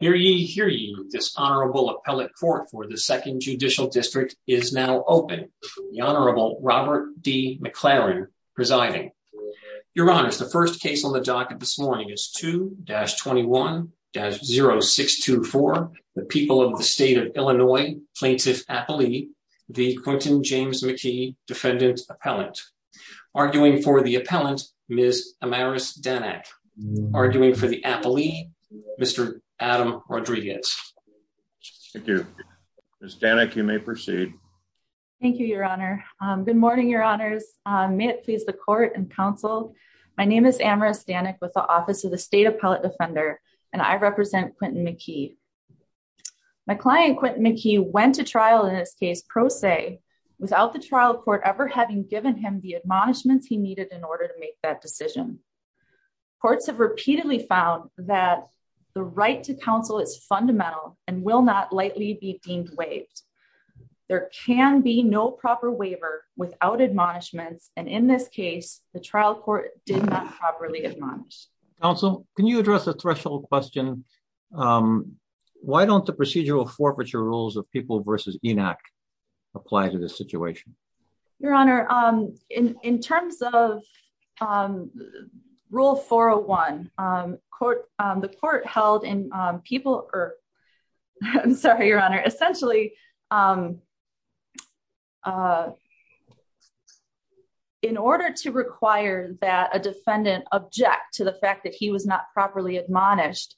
Hear ye, hear ye. This Honorable Appellate Court for the Second Judicial District is now open. The Honorable Robert D. McLaren presiding. Your Honors, the first case on the docket this morning is 2-21-0624, the people of the state of Illinois, Plaintiff Appellee, the Quentin James McKee Defendant Appellant. Arguing for the Appellant, Ms. Amaris Danak. Arguing for the Appellee, Mr. Adam Rodriguez. Thank you. Ms. Danak, you may proceed. Thank you, Your Honor. Good morning, Your Honors. May it please the Court and Council, my name is Amaris Danak with the Office of the State Appellate Defender and I represent Quentin McKee. My client, Quentin McKee, went to trial in this case pro se without the trial court ever having given him the admonishments he needed in order to make that decision. Courts have repeatedly found that the right to counsel is fundamental and will not lightly be deemed waived. There can be no proper waiver without admonishments and in this case, the trial court did not properly admonish. Council, can you address the threshold question, why don't the procedural forfeiture rules of People v. ENAC apply to this situation? Your Honor, in terms of Rule 401, the court held in People v. ENAC, essentially in order to require that a defendant object to the fact that he was not properly admonished,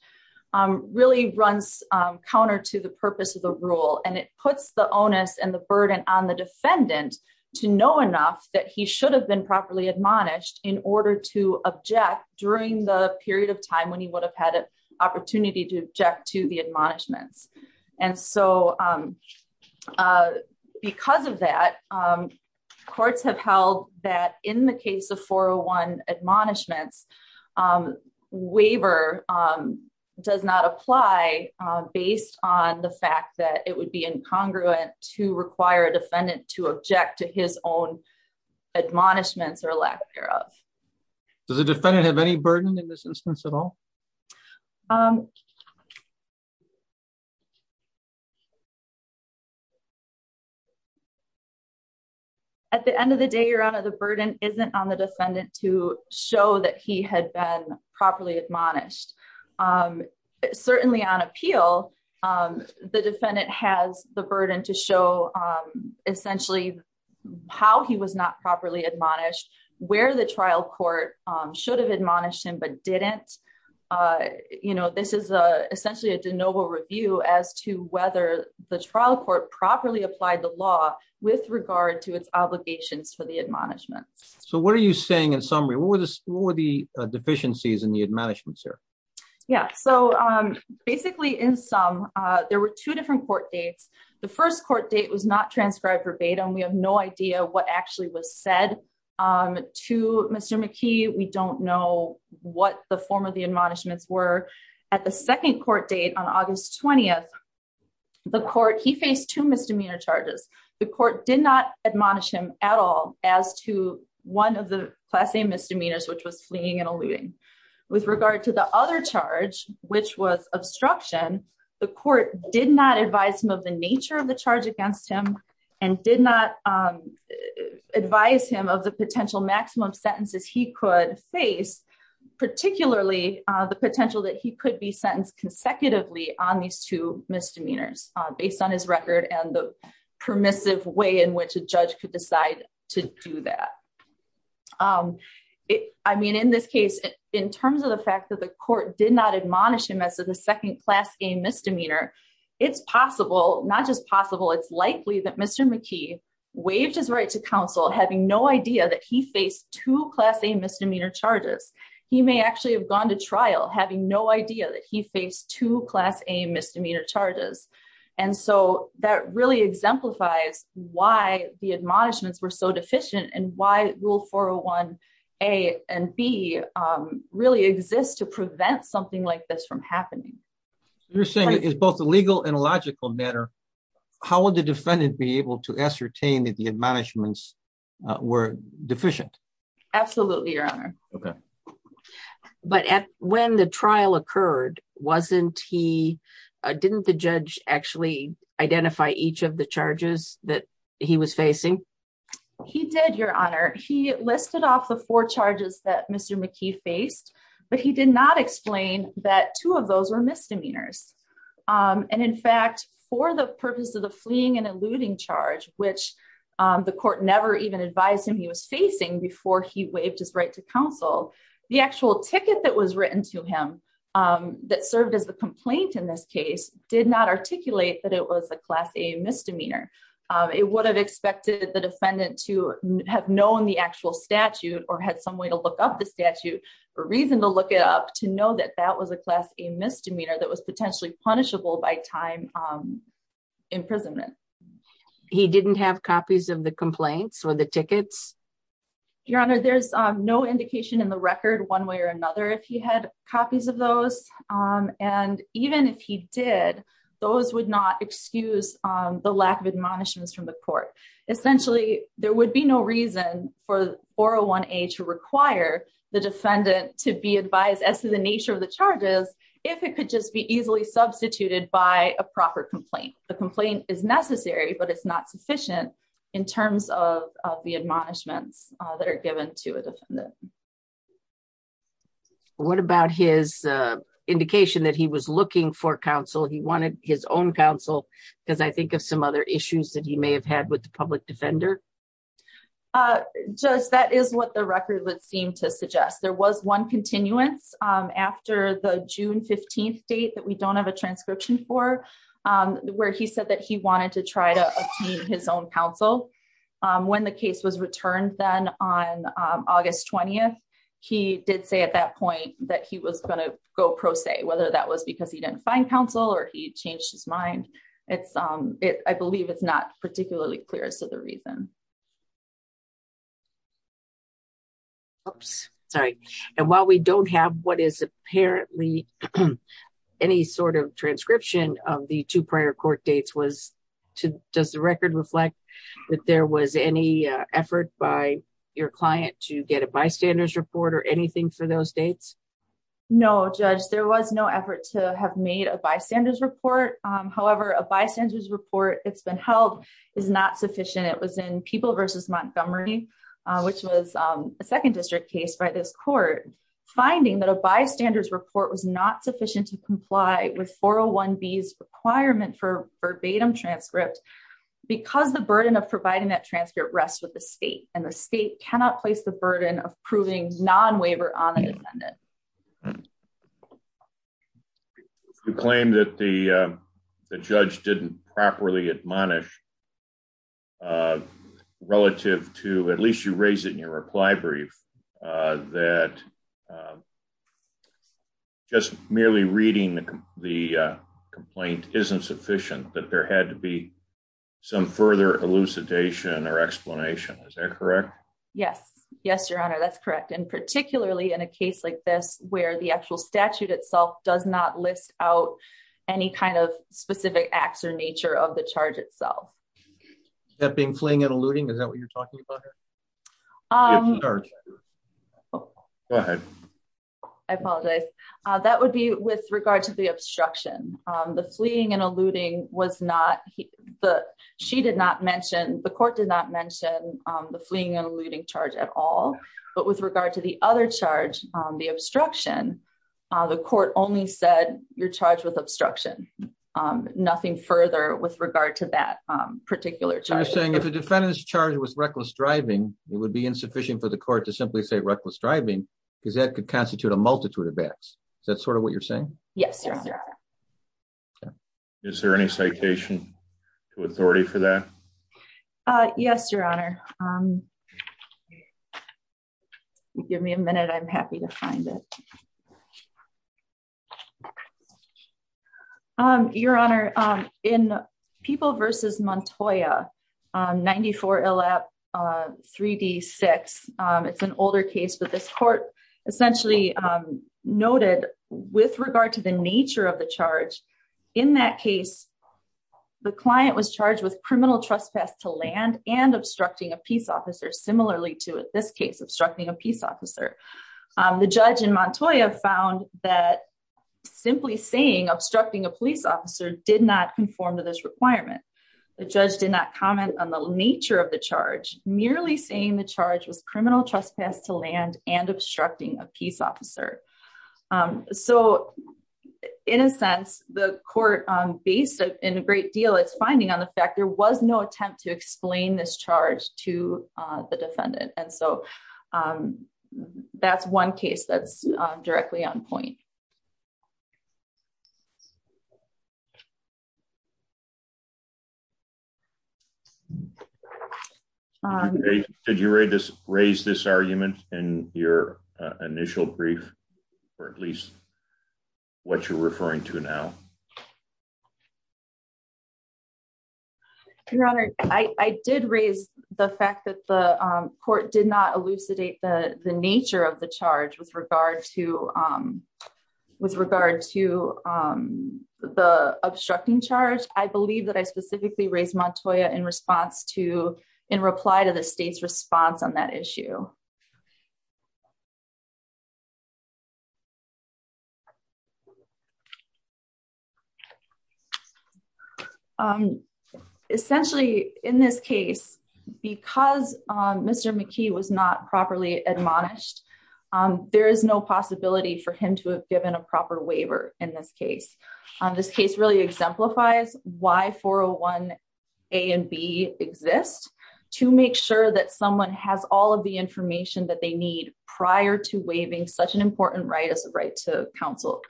really runs counter to the purpose of the rule and it puts the onus and the burden on the defendant to know enough that he should have been properly admonished in order to object during the period of time when he would have had an opportunity to object to the admonishments. And so, because of that, courts have held that in the case of 401 admonishments, waiver does not apply based on the fact that it would be incongruent to require a defendant to object to his own admonishments or lack thereof. Does the defendant have any burden in this instance at all? At the end of the day, Your Honor, the burden isn't on the defendant to show that he had been properly admonished. Certainly on appeal, the defendant has the burden to show essentially how he was not properly admonished, where the trial court should have admonished him but didn't. This is essentially a de novo review as to whether the trial court properly applied the law with regard to its obligations for the admonishments. So what are you saying in summary? What were the deficiencies in the admonishments here? Yeah, so basically in sum, there were two different court dates. The first court date was not transcribed verbatim. We have no idea what actually was said to Mr. McKee. We don't know what the form of the admonishments were. At the second court date on August 20th, the court, he faced two misdemeanor charges. The court did not admonish him at all as to one of the class A misdemeanors, which was fleeing and alluding. With regard to the other charge, which was obstruction, the court did not advise him of the nature of the charge against him and did not advise him of the potential maximum sentences he could face, particularly the based on his record and the permissive way in which a judge could decide to do that. I mean, in this case, in terms of the fact that the court did not admonish him as to the second class A misdemeanor, it's possible, not just possible, it's likely that Mr. McKee waived his right to counsel, having no idea that he faced two class A misdemeanor charges. He may actually have gone to trial having no idea that he faced two class A misdemeanor charges. And so that really exemplifies why the admonishments were so deficient and why rule 401A and B really exist to prevent something like this from happening. You're saying it's both a legal and a logical matter. How would the defendant be able to ascertain that the admonishments were deficient? Absolutely, Your Honor. Okay. But when the trial occurred, didn't the judge actually identify each of the charges that he was facing? He did, Your Honor. He listed off the four charges that Mr. McKee faced, but he did not explain that two of those were misdemeanors. And in fact, for the purpose of the fleeing and eluding charge, which the court never even advised him he was facing before he counseled, the actual ticket that was written to him that served as the complaint in this case did not articulate that it was a class A misdemeanor. It would have expected the defendant to have known the actual statute or had some way to look up the statute or reason to look it up to know that that was a class A misdemeanor that was potentially punishable by time imprisonment. He didn't have copies of the complaints or the tickets? Your Honor, there's no indication in the record one way or another if he had copies of those. And even if he did, those would not excuse the lack of admonishments from the court. Essentially, there would be no reason for 401A to require the defendant to be advised as to the nature of the charges if it could just be easily substituted by a proper complaint. A complaint is necessary, but it's not sufficient in terms of the admonishments that are given to a defendant. What about his indication that he was looking for counsel? He wanted his own counsel because I think of some other issues that he may have had with the public defender? Judge, that is what the record would seem to suggest. There was one 15th date that we don't have a transcription for where he said that he wanted to try to obtain his own counsel. When the case was returned then on August 20th, he did say at that point that he was going to go pro se, whether that was because he didn't find counsel or he changed his mind. I believe it's not particularly clear as to the reason. Oops, sorry. And while we don't have what is apparently any sort of transcription of the two prior court dates, does the record reflect that there was any effort by your client to get a bystanders report or anything for those dates? No, Judge. There was no effort to have made a bystanders report. However, a bystanders report that's been held is not sufficient. It was in People v. Montgomery, which was a second district case by this court, finding that a bystanders report was not sufficient to comply with 401B's requirement for verbatim transcript because the burden of providing that transcript rests with the state and the state cannot place the burden of proving non-waiver on an independent. You claim that the judge didn't properly admonish relative to, at least you raise it in your reply brief, that just merely reading the complaint isn't sufficient, that there had to be some further elucidation or explanation. Is that correct? Yes. Yes, Your Honor, that's correct. And particularly in a case like this where the actual statute itself does not list out any kind of specific acts or nature of the charge itself. Is that being fleeing and eluding? Is that what you're talking about here? I apologize. That would be with regard to the obstruction. The fleeing and eluding was not, she did not mention, the court did not mention the fleeing and eluding charge at all, but with regard to the other charge, the obstruction, the court only said you're particular charge. You're saying if the defendant's charge was reckless driving, it would be insufficient for the court to simply say reckless driving because that could constitute a multitude of acts. Is that sort of what you're saying? Yes, Your Honor. Is there any citation to authority for that? Yes, Your Honor. Give me a minute. I'm happy to find it. Okay. Your Honor, in People v. Montoya, 94 LAP 3D6, it's an older case, but this court essentially noted with regard to the nature of the charge, in that case, the client was charged with criminal trespass to land and obstructing a peace officer, similarly to, in this case, obstructing a peace officer. The judge in Montoya found that simply saying obstructing a police officer did not conform to this requirement. The judge did not comment on the nature of the charge, merely saying the charge was criminal trespass to land and obstructing a peace officer. So, in a sense, the court, based in a great deal, it's finding on the fact there was no attempt to explain this charge to the defendant. And so, that's one case that's directly on point. Did you raise this argument in your initial brief, or at least what you're referring to now? Your Honor, I did raise the fact that the court did not elucidate the nature of the charge with regard to the obstructing charge. I believe that I specifically raised Montoya in response to, in reply to the state's response on that issue. Essentially, in this case, because Mr. McKee was not properly admonished, there is no possibility for him to have given a proper waiver in this case. This case really exemplifies why 401A and B exist, to make sure that someone has all of the information that they need prior to waiving such an important right as a right to counsel.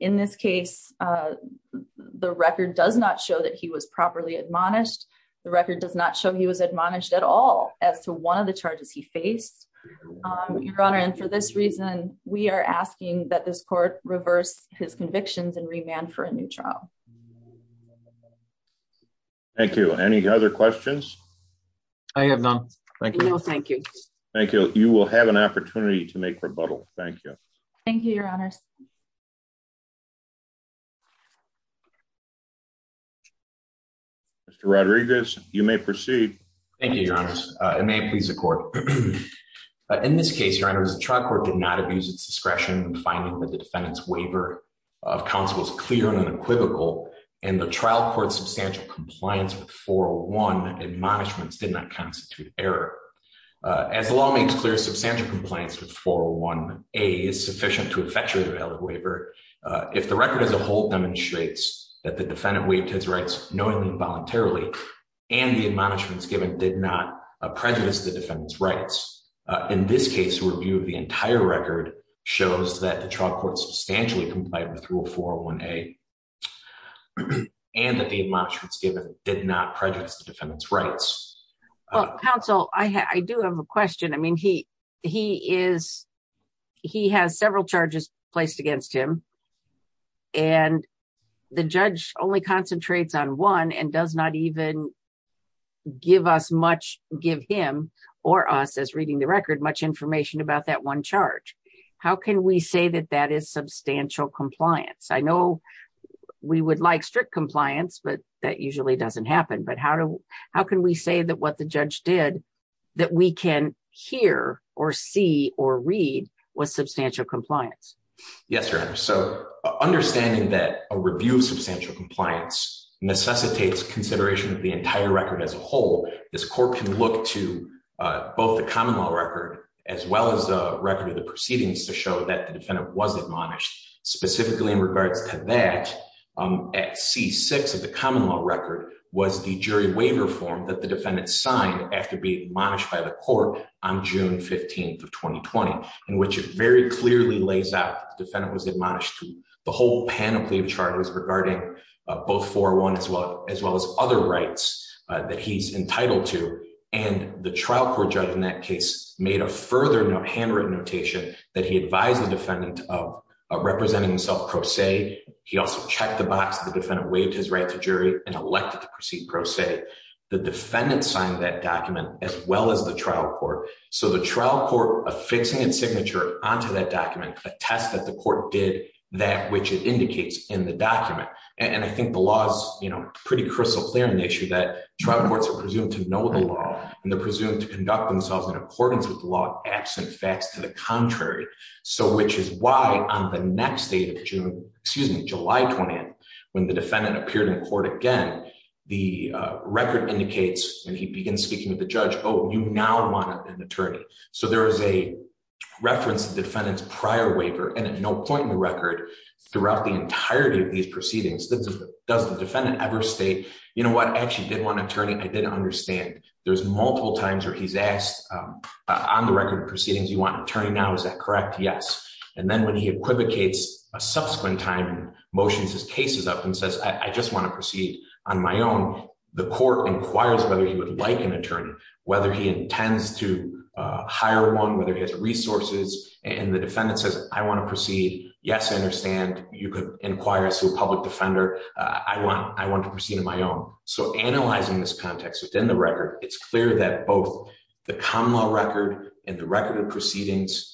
In this case, the record does not show that he was properly admonished. The record does not show he was admonished at all as to one of the charges he faced, Your Honor. And for this reason, we are asking that this court reverse his convictions and remand for a new trial. Thank you. Any other questions? I have none. Thank you. Thank you. Thank you. You will have an opportunity to make rebuttal. Thank you. Thank you, Your Honor. Mr. Rodriguez, you may proceed. Thank you, Your Honors. And may it please the court. In this case, Your Honors, the trial court did not abuse its discretion in finding that the defendant's waiver of counsel was clear and unequivocal, and the trial court's substantial compliance with 401 admonishments did not constitute error. As the law makes clear, substantial compliance with 401A is sufficient to effectuate a valid waiver if the record as a whole demonstrates that the defendant waived his rights knowingly and voluntarily and the admonishments given did not prejudice the defendant's rights. In this case, the review of the entire record shows that the trial court substantially complied with rule 401A and that the admonishments given did not prejudice the defendant's rights. Well, counsel, I do have a question. I mean, he has several charges placed against him, and the judge only concentrates on one and does not even give us much, give him or us, as reading the record, much information about that one charge. How can we say that that is substantial compliance? I know we would like strict compliance, but that usually doesn't happen. But how can we say that what the judge did that we can hear or see or read was substantial compliance? Yes, Your Honor. So understanding that a review of substantial compliance necessitates consideration of the entire record as a whole, this court can look to both the common law record as well as the record of the proceedings to show that the defendant was admonished. Specifically in regards to that, at C6 of the common law record, was the jury waiver form that the defendant signed after being admonished by the court on June 15th of 2020, in which it very clearly lays out the defendant was admonished through the whole panoply of charges regarding both 401 as well as other rights that he's entitled to. And the trial court judge in that case made a further handwritten notation that he advised the defendant of representing himself pro se. He also checked the box that the defendant waived his right to jury and elected to proceed pro se. The defendant signed that document as well as the trial court. So the trial court affixing a signature onto that document attests that the court did that which it indicates in the document. And I think the law is pretty crystal clear in the issue that trial courts are presumed to know the law and they're presumed to conduct themselves in accordance with the law absent facts to the contrary. So which is why on the next date of July 20th, when the defendant appeared in court again, the record indicates when he begins speaking with the judge, oh, you now want an attorney. So there is a reference to the defendant's prior waiver and at no point in the record throughout the entirety of these proceedings does the defendant ever state, you know what, I actually did want an attorney, I didn't understand. There's multiple times where he's asked on the record proceedings, you want an attorney now, is that correct? Yes. And then when he equivocates a subsequent time and motions his cases up and says, I just want to proceed on my own, the court inquires whether he would like an attorney, whether he intends to hire one, whether he has resources. And the defendant says, I want to proceed. Yes, I understand. You could inquire to a public defender. I want to proceed on my own. So analyzing this context within the record, it's clear that both the common law record and the proceedings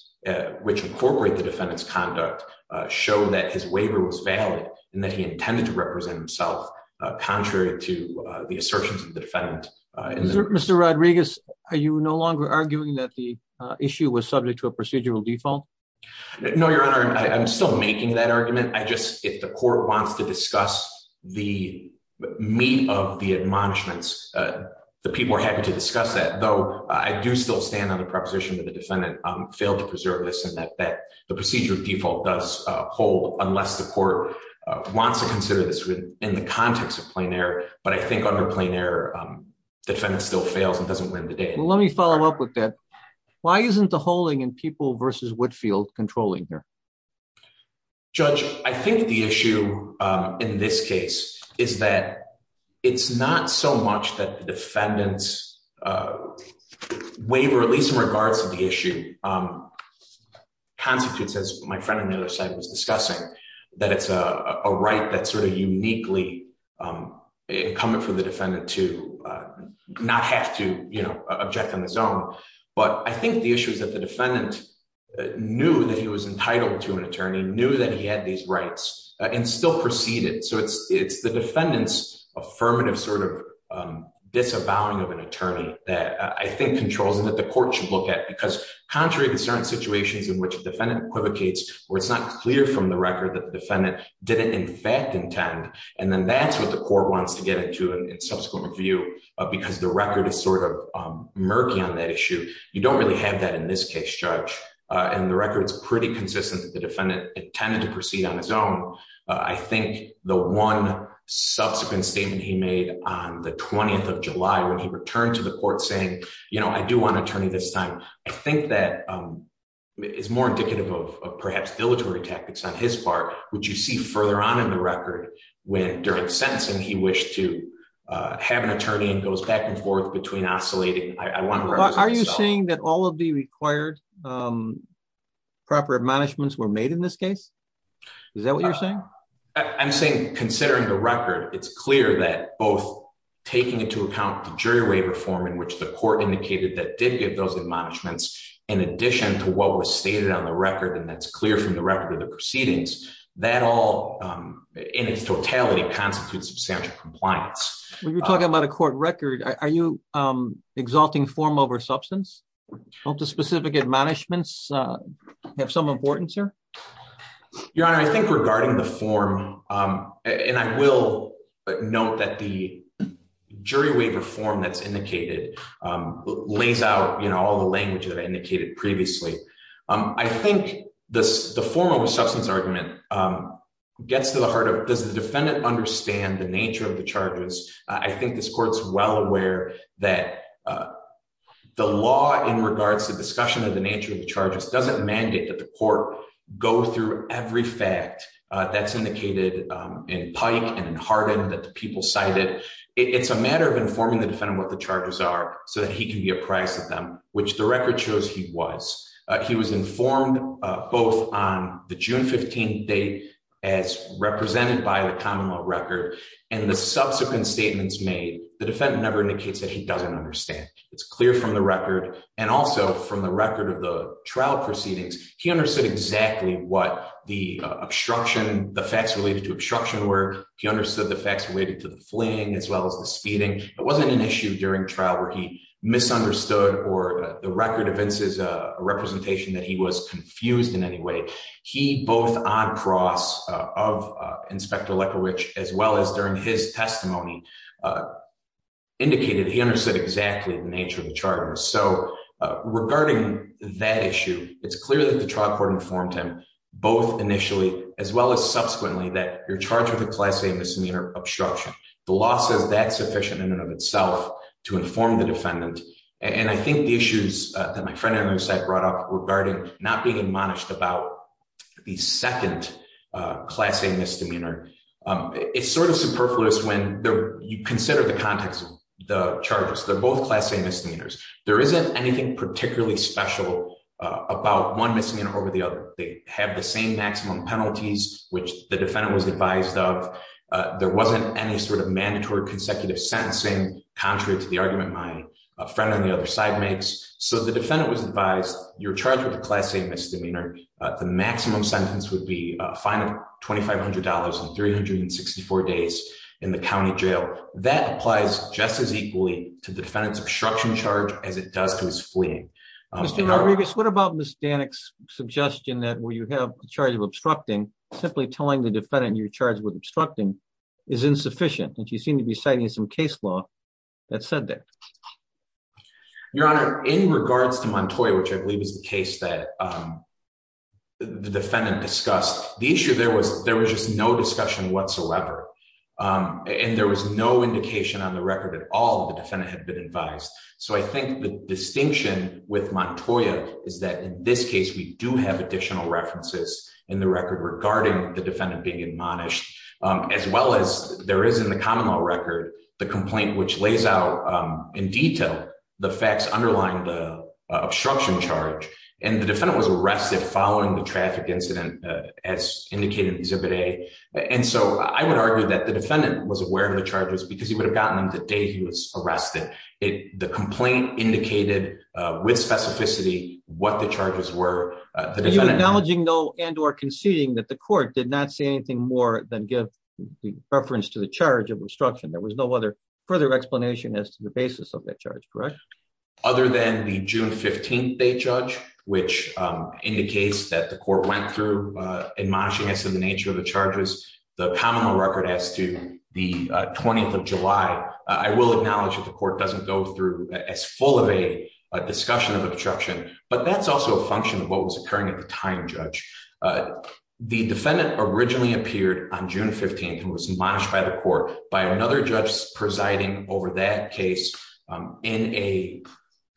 which incorporate the defendant's conduct show that his waiver was valid and that he intended to represent himself contrary to the assertions of the defendant. Mr. Rodriguez, are you no longer arguing that the issue was subject to a procedural default? No, Your Honor, I'm still making that argument. I just, if the court wants to discuss the meat of the admonishments, the people are happy to discuss that, though I do still stand on the position that the defendant failed to preserve this and that the procedural default does hold unless the court wants to consider this in the context of plain error. But I think under plain error, the defendant still fails and doesn't win the day. Well, let me follow up with that. Why isn't the holding in People v. Whitfield controlling here? Judge, I think the issue in this case is that it's not so much that the defendant's waiver, at least in regards to the issue, constitutes, as my friend on the other side was discussing, that it's a right that's sort of uniquely incumbent for the defendant to not have to, you know, object on his own. But I think the issue is that the defendant knew that he was entitled to an attorney, knew that he had these rights, and still proceeded. So it's the defendant's affirmative sort of disavowing of an attorney that I think controls and that the court should look at. Because contrary to certain situations in which a defendant equivocates, where it's not clear from the record that the defendant didn't in fact intend, and then that's what the court wants to get into in subsequent review, because the record is sort of murky on that issue. You don't really have that in this case, Judge. And the record's pretty consistent that the defendant intended to proceed on his own. I think the one subsequent statement he made on the 20th of July when he returned to the court saying, you know, I do want an attorney this time, I think that is more indicative of perhaps dilatory tactics on his part, which you see further on in the record when during sentencing he wished to have an attorney and goes back and proper admonishments were made in this case. Is that what you're saying? I'm saying considering the record, it's clear that both taking into account the jury waiver form in which the court indicated that did give those admonishments in addition to what was stated on the record, and that's clear from the record of the proceedings, that all in its totality constitutes substantial compliance. When you're talking about a court record, are you exalting form over substance? Don't the specific admonishments have some importance here? Your Honor, I think regarding the form, and I will note that the jury waiver form that's indicated lays out, you know, all the language that I indicated previously. I think the form over substance argument gets to the heart of, does the defendant understand the nature of the charges? I think this court's well aware that the law in regards to discussion of the nature of the charges doesn't mandate that the court go through every fact that's indicated in Pike and in Hardin that the people cited. It's a matter of informing the defendant what the charges are so that he can be apprised of them, which the record shows he was. He was informed both on the June 15th date as represented by the common law record and the subsequent statements made. The defendant never indicates that he doesn't understand. It's clear from the record and also from the record of the trial proceedings, he understood exactly what the obstruction, the facts related to obstruction were. He understood the facts related to the fleeing as well as the speeding. It wasn't an issue during trial where he misunderstood or the record evinces a representation that he was confused in any way. He both on cross of Inspector Lecker, which as well as during his testimony indicated he understood exactly the nature of the charges. So regarding that issue, it's clear that the trial court informed him both initially as well as subsequently that you're charged with a class A misdemeanor obstruction. The law says that's sufficient in and of itself to inform the defendant. And I think the issues that my friend on your side brought up regarding not being admonished about the second class A misdemeanor, it's sort of superfluous when you consider the context of the charges. They're both class A misdemeanors. There isn't anything particularly special about one misdemeanor over the other. They have the same maximum penalties, which the defendant was advised of. There wasn't any sort of mandatory consecutive sentencing, contrary to the argument my friend on the other side makes. So the defendant was advised you're charged with a class A misdemeanor. The maximum sentence would be a fine of $2,500 and 364 days in the county jail. That applies just as equally to the defendant's obstruction charge as it does to his fleeing. Mr. Narbigas, what about Ms. Danik's suggestion that where you have a charge of obstructing, simply telling the defendant you're charged with obstructing is insufficient? And she seemed to be citing some case law that said that. Your Honor, in regards to Montoy, which I believe is the case that the defendant discussed, the issue there was there was just no discussion whatsoever. And there was no indication on the record at all that the defendant had been advised. So I think the distinction with Montoy is that in this case, we do have additional references in the record regarding the defendant being admonished, as well as there is in the the defendant was arrested following the traffic incident, as indicated in exhibit A. And so I would argue that the defendant was aware of the charges because he would have gotten them the day he was arrested. The complaint indicated with specificity what the charges were. You're acknowledging though and or conceding that the court did not say anything more than give the reference to the charge of obstruction. There was no other further explanation as to basis of that charge, correct? Other than the June 15th day judge, which indicates that the court went through admonishing us in the nature of the charges, the common law record as to the 20th of July. I will acknowledge that the court doesn't go through as full of a discussion of obstruction, but that's also a function of what was occurring at the time, Judge. The defendant originally appeared on June 15th and was admonished by the court by another judge presiding over that case in a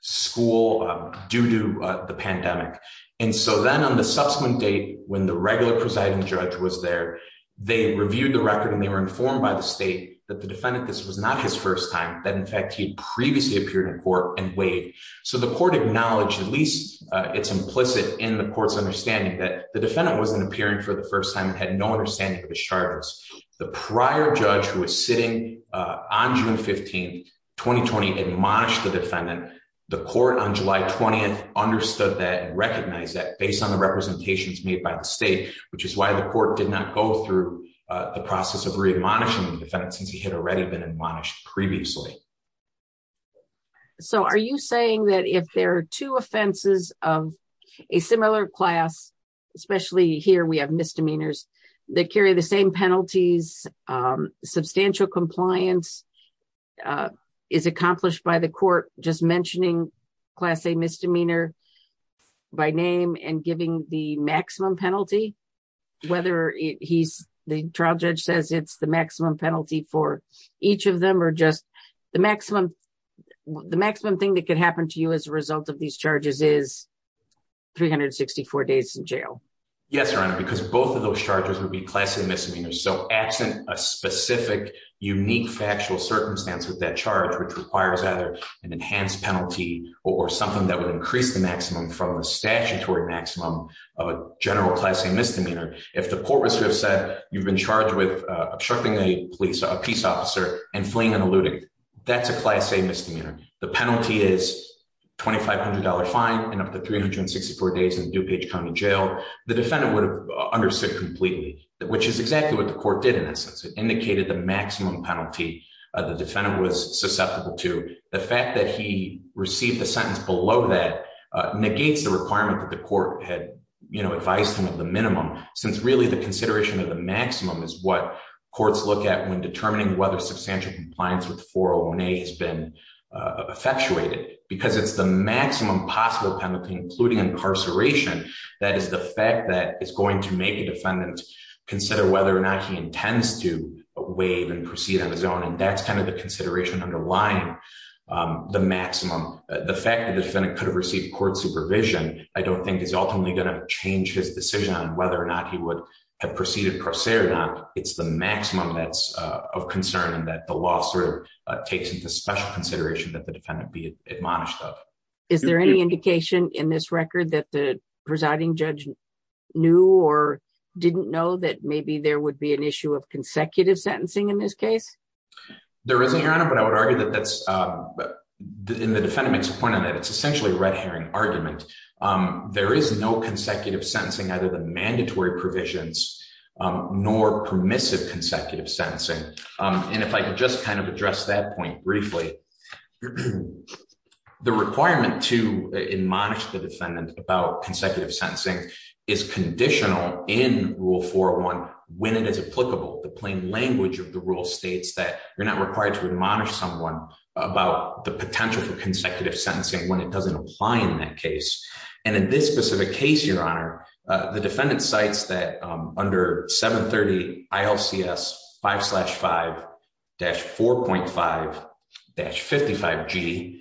school due to the pandemic. And so then on the subsequent date, when the regular presiding judge was there, they reviewed the record and they were informed by the state that the defendant, this was not his first time, that in fact he'd previously appeared in court and waived. So the court acknowledged, at least it's implicit in the court's understanding that the defendant wasn't appearing for the first time and had no understanding of the charges. The prior judge who was sitting on June 15th, 2020, admonished the defendant. The court on July 20th understood that and recognized that based on the representations made by the state, which is why the court did not go through the process of re-admonishing the defendant since he had already been admonished previously. So are you saying that if there are two offenses of a similar class, especially here we have misdemeanors that carry the same penalties, substantial compliance is accomplished by the court just mentioning Class A misdemeanor by name and giving the maximum penalty, whether the trial judge says it's the maximum penalty for each of them or just the maximum thing that could happen to you as a result of these charges is 364 days in jail? Yes, Your Honor, because both of those charges would be Class A misdemeanors. So absent a specific unique factual circumstance with that charge, which requires either an enhanced penalty or something that would increase the maximum from the statutory maximum of a general Class A misdemeanor, if the court was to have said you've been charged with obstructing a police, a peace officer and fleeing and eluding, that's a Class A misdemeanor. The penalty is $2,500 fine and up to 364 days in DuPage County Jail. The defendant would have understood completely, which is exactly what the court did in essence. It indicated the maximum penalty the defendant was susceptible to. The fact that he received the sentence below that negates the requirement that the court had advised him of the minimum, since really the consideration of the maximum is what courts look at when determining whether substantial compliance with 401A has been effectuated. Because it's the maximum possible penalty, including incarceration, that is the fact that it's going to make the defendant consider whether or not he intends to waive and proceed on his own. And that's kind of the consideration underlying the maximum. The fact that the defendant could have received court supervision, I don't think is ultimately going to change his decision on whether or not he would have proceeded pro se or not. It's the maximum that's of concern and that the law sort of special consideration that the defendant be admonished of. Is there any indication in this record that the presiding judge knew or didn't know that maybe there would be an issue of consecutive sentencing in this case? There isn't, Your Honor, but I would argue that that's, and the defendant makes a point on that, it's essentially a red herring argument. There is no consecutive sentencing, either the mandatory provisions nor permissive consecutive sentencing. And if I could just kind of address that point briefly, the requirement to admonish the defendant about consecutive sentencing is conditional in Rule 401 when it is applicable. The plain language of the rule states that you're not required to admonish someone about the potential for consecutive sentencing when it doesn't apply in that case. And in this specific case, Your Honor, the defendant cites that under 730 ILCS 5-5-4.5-55G,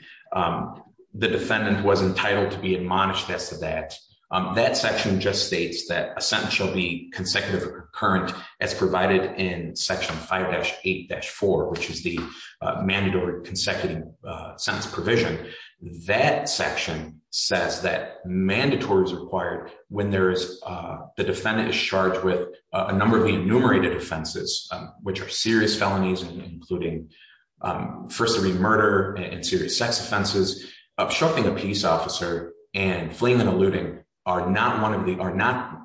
the defendant was entitled to be admonished as to that. That section just states that a sentence shall be consecutive or concurrent as provided in Section 5-8-4, which is the consecutive sentence provision. That section says that mandatory is required when the defendant is charged with a number of enumerated offenses, which are serious felonies, including first-degree murder and serious sex offenses, obstructing a peace officer, and fleeing and eluding are not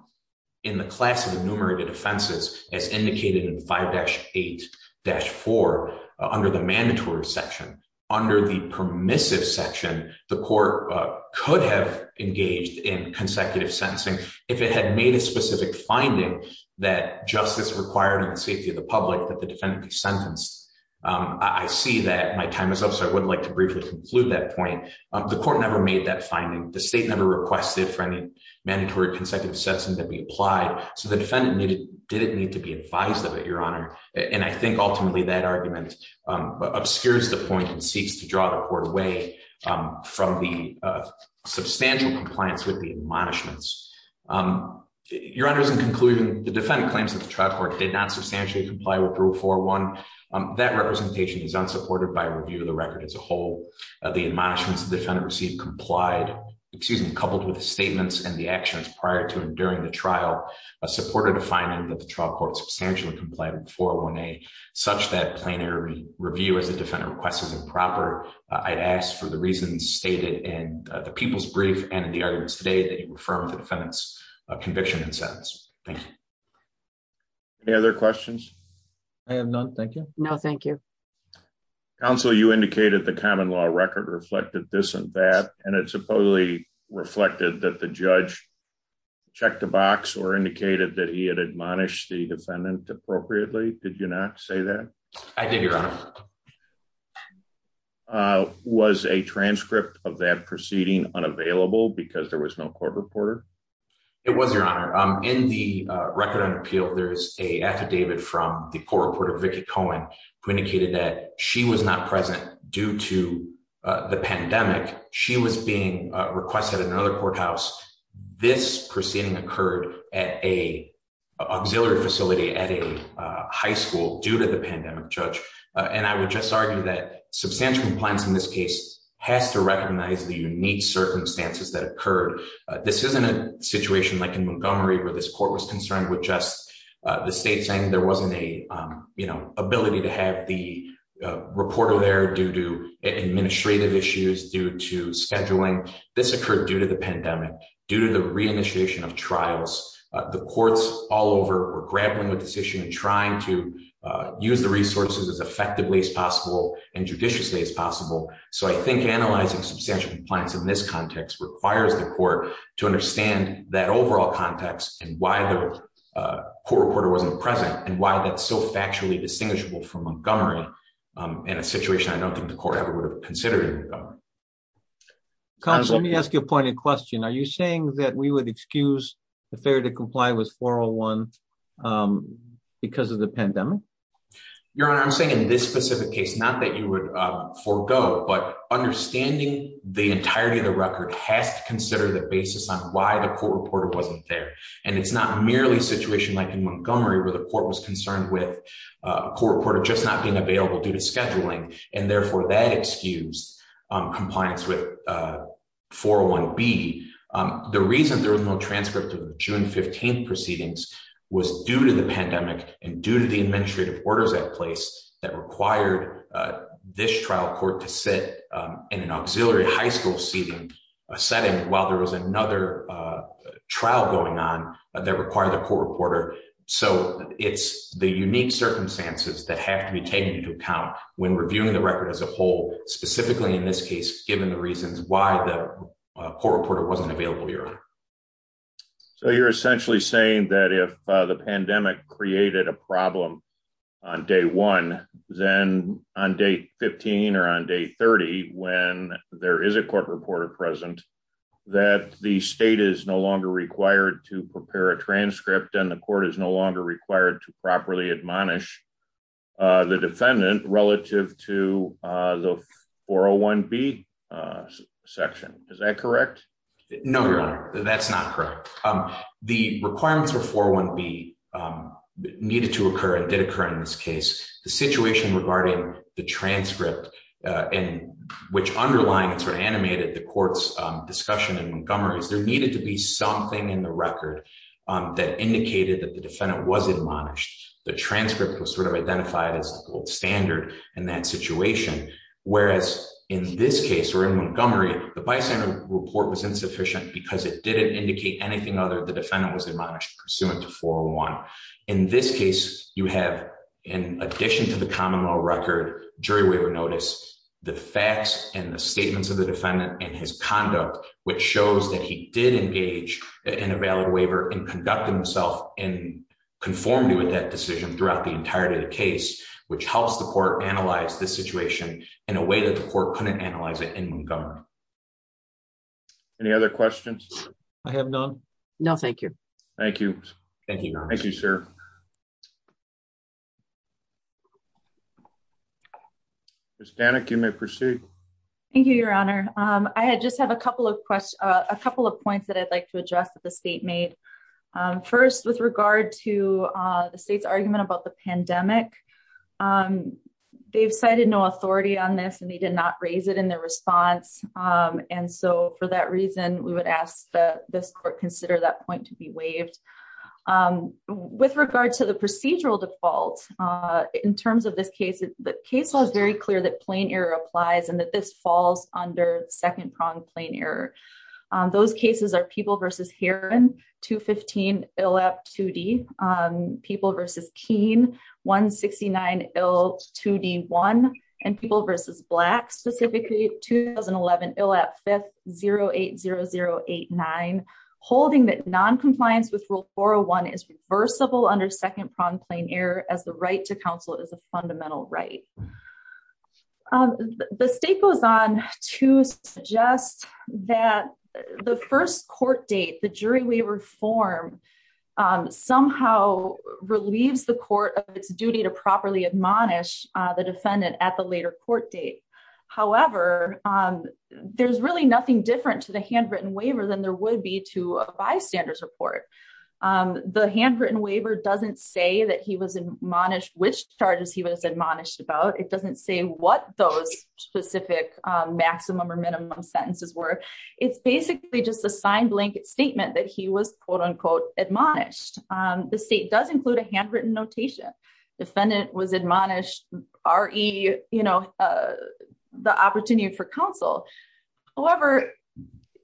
in the class of enumerated offenses as indicated in 5-8-4 under the mandatory section. Under the permissive section, the court could have engaged in consecutive sentencing if it had made a specific finding that justice required and the safety of the public that the defendant be sentenced. I see that my time is up, so I would like to briefly conclude that point. The court never made that finding. The state never requested for any mandatory consecutive sentencing to be applied, so the defendant didn't need to be advised of it, Your Honor, and I think ultimately that argument obscures the point and seeks to draw the court away from the substantial compliance with the admonishments. Your Honors, in conclusion, the defendant claims that the trial court did not substantially comply with Rule 401. That representation is unsupported by review of record as a whole. The admonishments the defendant received complied, excuse me, coupled with the statements and the actions prior to and during the trial supported a finding that the trial court substantially complied with 401A, such that plenary review as the defendant requests is improper. I'd ask for the reasons stated in the people's brief and in the arguments today that you refer to the defendant's conviction and sentence. Thank you. Any other questions? I have none. Thank you. No, thank you. Counsel, you indicated the common law record reflected this and that, and it supposedly reflected that the judge checked the box or indicated that he had admonished the defendant appropriately. Did you not say that? I did, Your Honor. Was a transcript of that proceeding unavailable because there was no court reporter? It was, Your Honor. In the record on appeal there is a affidavit from the court reporter, Vicki Cohen, who indicated that she was not present due to the pandemic. She was being requested at another courthouse. This proceeding occurred at an auxiliary facility at a high school due to the pandemic, Judge. And I would just argue that substantial compliance in this case has to recognize the unique circumstances that occurred. This isn't a situation like in Montgomery where this court was concerned with just the state saying there wasn't a, you know, ability to have the reporter there due to administrative issues, due to scheduling. This occurred due to the pandemic, due to the reinitiation of trials. The courts all over were grappling with this issue and trying to use the resources as effectively as possible and judiciously as possible. So I think analyzing substantial compliance in this context requires the court to understand that overall context and why the court reporter wasn't present and why that's so factually distinguishable from Montgomery in a situation I don't think the court ever would have considered in Montgomery. Connors, let me ask you a pointed question. Are you saying that we would excuse the failure to comply with 401 because of the pandemic? Your Honor, I'm saying in this specific case, not that you would forego, but understanding the entirety of the record has to consider the and it's not merely a situation like in Montgomery where the court was concerned with a court reporter just not being available due to scheduling and therefore that excuse compliance with 401B. The reason there was no transcript of the June 15th proceedings was due to the pandemic and due to the administrative orders at place that required this trial court to sit in an auxiliary high school seating setting while there was another trial going on that required the court reporter. So it's the unique circumstances that have to be taken into account when reviewing the record as a whole, specifically in this case, given the reasons why the court reporter wasn't available. Your Honor. So you're essentially saying that if the pandemic created a problem on day one, then on day 15 or on day 30, when there is a court reporter present, that the state is no longer required to prepare a transcript and the court is no longer required to properly admonish the defendant relative to the 401B section. Is that correct? No, Your Honor, that's not correct. The requirements for 401B needed to occur and did occur in this case. The situation regarding the transcript and which underlying it sort of animated the court's discussion in Montgomery is there needed to be something in the record that indicated that the defendant was admonished. The transcript was sort of identified as the gold standard in that situation, whereas in this case or in Montgomery, the bystander report was insufficient because it didn't indicate anything other than the defendant was admonished pursuant to 401. In this case, you have, in addition to the common law record, jury waiver notice, the facts and the statements of the defendant and his conduct, which shows that he did engage in a valid waiver and conducted himself in conformity with that decision throughout the entirety of the case, which helps the court analyze this situation in a way that the court couldn't analyze it in Montgomery. Any other questions? I have none. No, thank you. Thank you. Thank you, Your Honor. Thank you, sir. Ms. Danek, you may proceed. Thank you, Your Honor. I just have a couple of questions, a couple of points that I'd like to address that the state made. First, with regard to the state's argument about the pandemic, they've cited no authority on this and they did not raise it in their response. And so for that reason, we would ask that this court consider that point to be in terms of this case. The case was very clear that plain error applies and that this falls under second-pronged plain error. Those cases are People v. Heron, 215, ILAP 2D, People v. Keene, 169, ILAP 2D1, and People v. Black, specifically 2011, ILAP 5, 080089, holding that noncompliance with Rule 401 is reversible under second-pronged plain error as the right to counsel is a fundamental right. The state goes on to suggest that the first court date, the jury waiver form, somehow relieves the court of its duty to properly admonish the defendant at the later court date. However, there's really nothing different to the handwritten waiver than there would be to a bystander's report. The handwritten waiver doesn't say that he was admonished, which charges he was admonished about. It doesn't say what those specific maximum or minimum sentences were. It's basically just a signed blanket statement that he was quote-unquote admonished. The state does include a handwritten notation. Defendant was admonished, R.E., you know, the opportunity for counsel. However,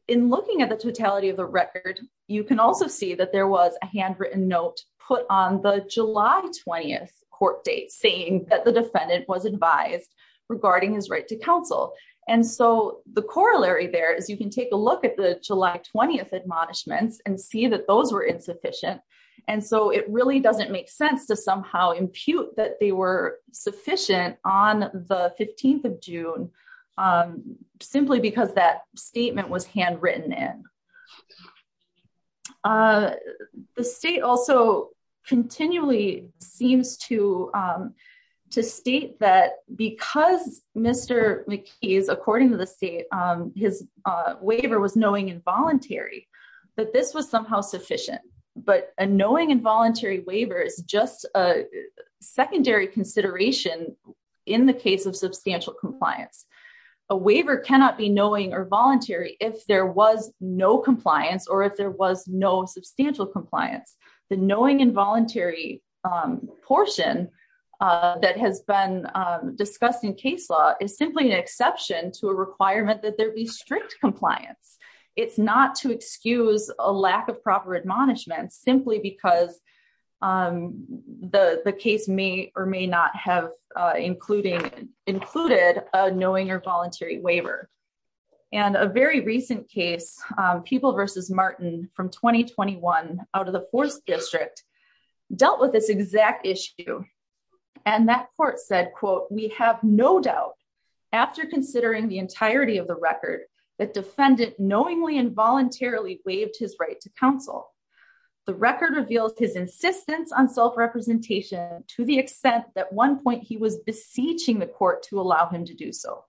in looking at the totality of the record, you can also see that there was a handwritten note put on the July 20th court date saying that the defendant was advised regarding his right to counsel. And so the corollary there is you can take a look at the July 20th admonishments and see that those were insufficient. And so it really doesn't make sense to somehow impute that they were sufficient on the 15th of June simply because that statement was handwritten in. The state also continually seems to state that because Mr. McKees, according to the state, his waiver was knowing involuntary, that this was somehow sufficient. But a knowing involuntary waiver is just a secondary consideration in the case of substantial compliance. A waiver cannot be knowing or voluntary if there was no compliance or if there was no substantial compliance. The knowing involuntary portion that has been discussed in case law is simply an exception to a requirement that there be strict compliance. It's not to excuse a lack of proper admonishment simply because the case may or may not have included a knowing or voluntary waiver. And a very recent case, People v. Martin from 2021 out of the Fourth District, dealt with this exact issue. And that court said, quote, we have no doubt after considering the entirety of the record that defendant knowingly waived his right to counsel. The record reveals his insistence on self-representation to the extent that one point he was beseeching the court to allow him to do so.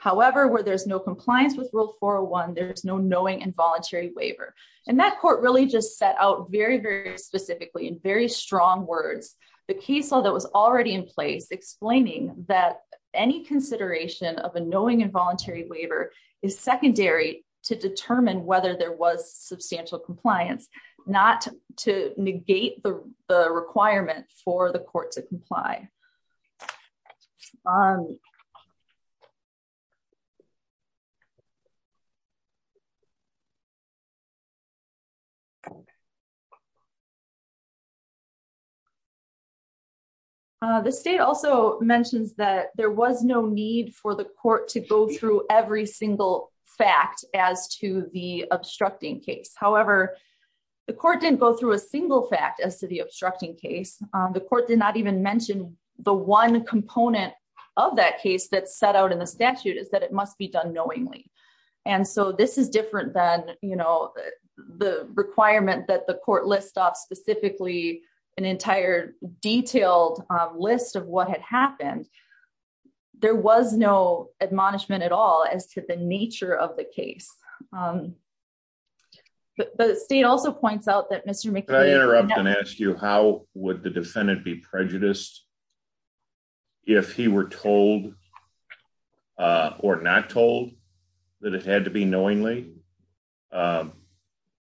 However, where there's no compliance with Rule 401, there's no knowing involuntary waiver. And that court really just set out very, very specifically in very strong words, the case law that was already in place explaining that any consideration of a knowing involuntary waiver is secondary to determine whether there was substantial compliance, not to negate the requirement for the court to comply. The state also mentions that there was no need for the court to go through every single fact as to the obstructing case. However, the court didn't go through a single fact as to the obstructing case. The court did not even mention the one component of that case that set out in the statute is that it must be done knowingly. And so this is different than, you know, the requirement that the court list off specifically an entire detailed list of what had happened. There was no admonishment at all as to the nature of the case. The state also points out that Mr. McLean... Can I interrupt and ask you how would the defendant be prejudiced if he were told or not told that it had to be knowingly?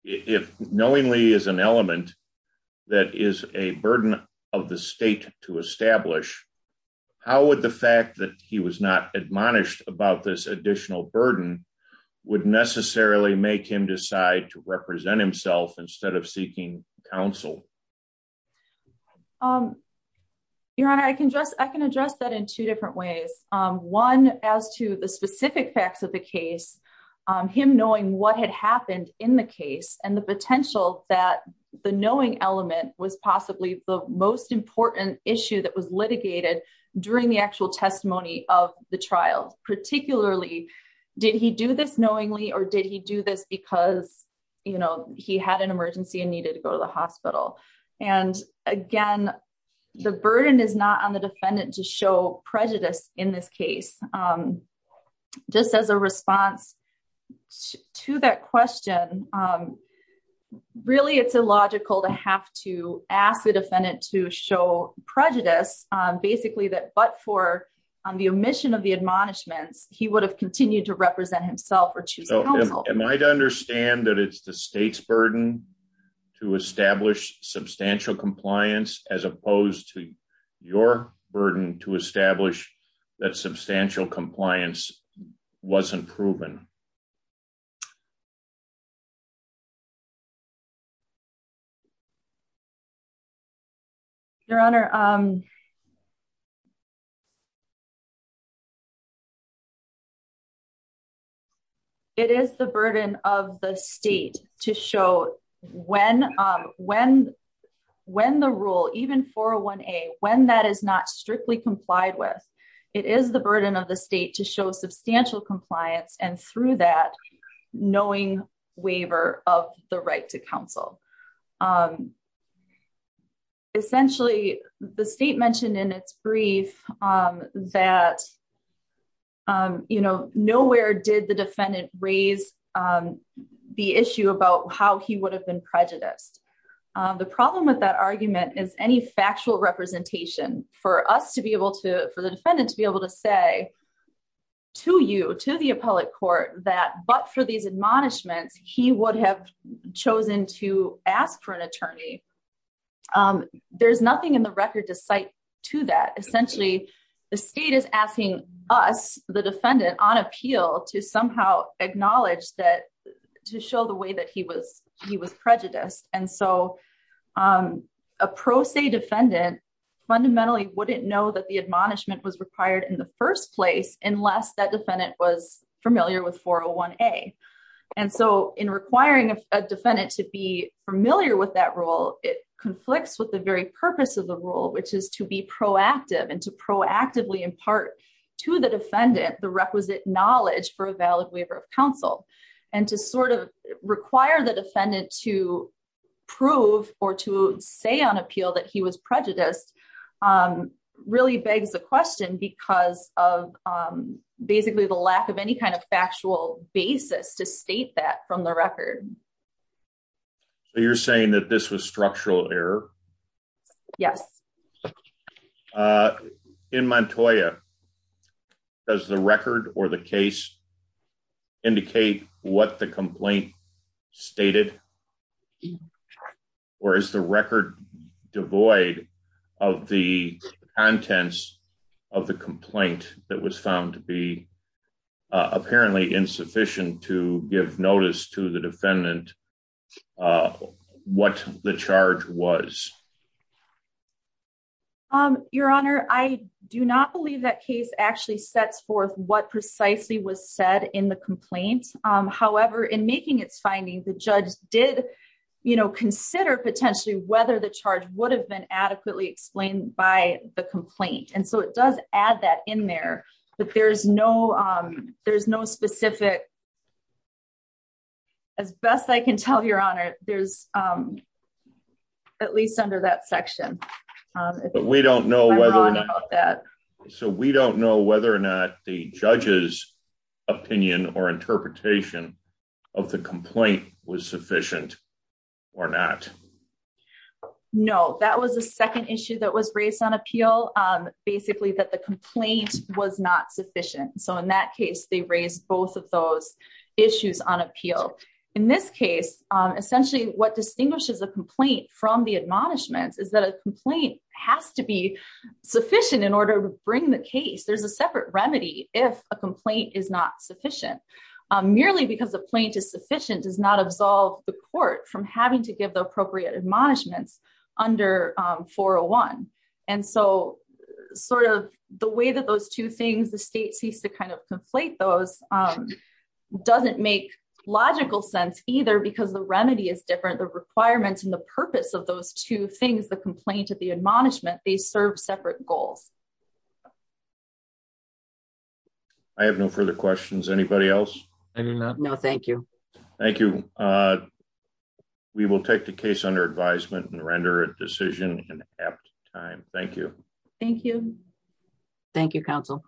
If knowingly is an element that is a burden of the state to establish, how would the fact that he was not admonished about this additional burden would necessarily make him decide to represent himself instead of seeking counsel? Your Honor, I can address that in two different ways. One, as to the specific facts of the case, him knowing what had happened in the case and the potential that the knowing element was possibly the most important issue that was litigated during the actual testimony of the trial. Particularly, did he do this knowingly or did he do this because, you know, he had an emergency and needed to go to the hospital? And again, the burden is not on the state. To that question, really, it's illogical to have to ask the defendant to show prejudice, basically, that but for the omission of the admonishments, he would have continued to represent himself or choose counsel. Am I to understand that it's the state's burden to establish substantial compliance as opposed to your burden to establish that substantial compliance wasn't proven? Your Honor, it is the burden of the state to show when the rule, even 401A, when that is not strictly complied with, it is the burden of the state to show substantial compliance and through that, knowing waiver of the right to counsel. Essentially, the state mentioned in its brief that, you know, nowhere did the defendant raise the issue about how he would have been prejudiced. The problem with that argument is any factual representation for us to be able to, for the defendant to be able to say to you, to the appellate court that but for these admonishments, he would have chosen to ask for an attorney. There's nothing in the record to cite to that. Essentially, the state is asking us, the defendant on appeal to somehow acknowledge that to show the way that he was prejudiced. And so, a pro se defendant fundamentally wouldn't know that the admonishment was required in the first place unless that defendant was familiar with 401A. And so, in requiring a defendant to be familiar with that rule, it conflicts with the very purpose of the and to proactively impart to the defendant the requisite knowledge for a valid waiver of counsel. And to sort of require the defendant to prove or to say on appeal that he was prejudiced really begs the question because of basically the lack of any kind of factual basis to state that from the record. So, you're saying that this was structural error? Yes. In Montoya, does the record or the case indicate what the complaint stated? Or is the record devoid of the contents of the complaint that was found to be apparently insufficient to give notice to the defendant what the charge was? Your Honor, I do not believe that case actually sets forth what precisely was said in the complaint. However, in making its findings, the judge did consider potentially whether the charge would have been adequately explained by the complaint. And so, it does add that in there, but there's no specific... As best I can tell, Your Honor, there's at least under the section. So, we don't know whether or not the judge's opinion or interpretation of the complaint was sufficient or not? No. That was the second issue that was raised on appeal. Basically, that the complaint was not sufficient. So, in that case, they raised both of those issues on appeal. In this case, essentially, what distinguishes a complaint from the admonishments is that a complaint has to be sufficient in order to bring the case. There's a separate remedy if a complaint is not sufficient. Merely because a plaintiff's sufficient does not absolve the court from having to give the appropriate admonishments under 401. And so, sort of the way that those two things, the state seems to kind of conflate those doesn't make logical sense either because the remedy is different. The requirements and the purpose of those two things, the complaint and the admonishment, they serve separate goals. I have no further questions. Anybody else? I do not. No, thank you. Thank you. We will take the case under advisement and render a decision in apt time. Thank you. Thank you. Thank you, counsel.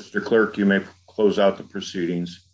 Mr. Clerk, you may close out the proceedings.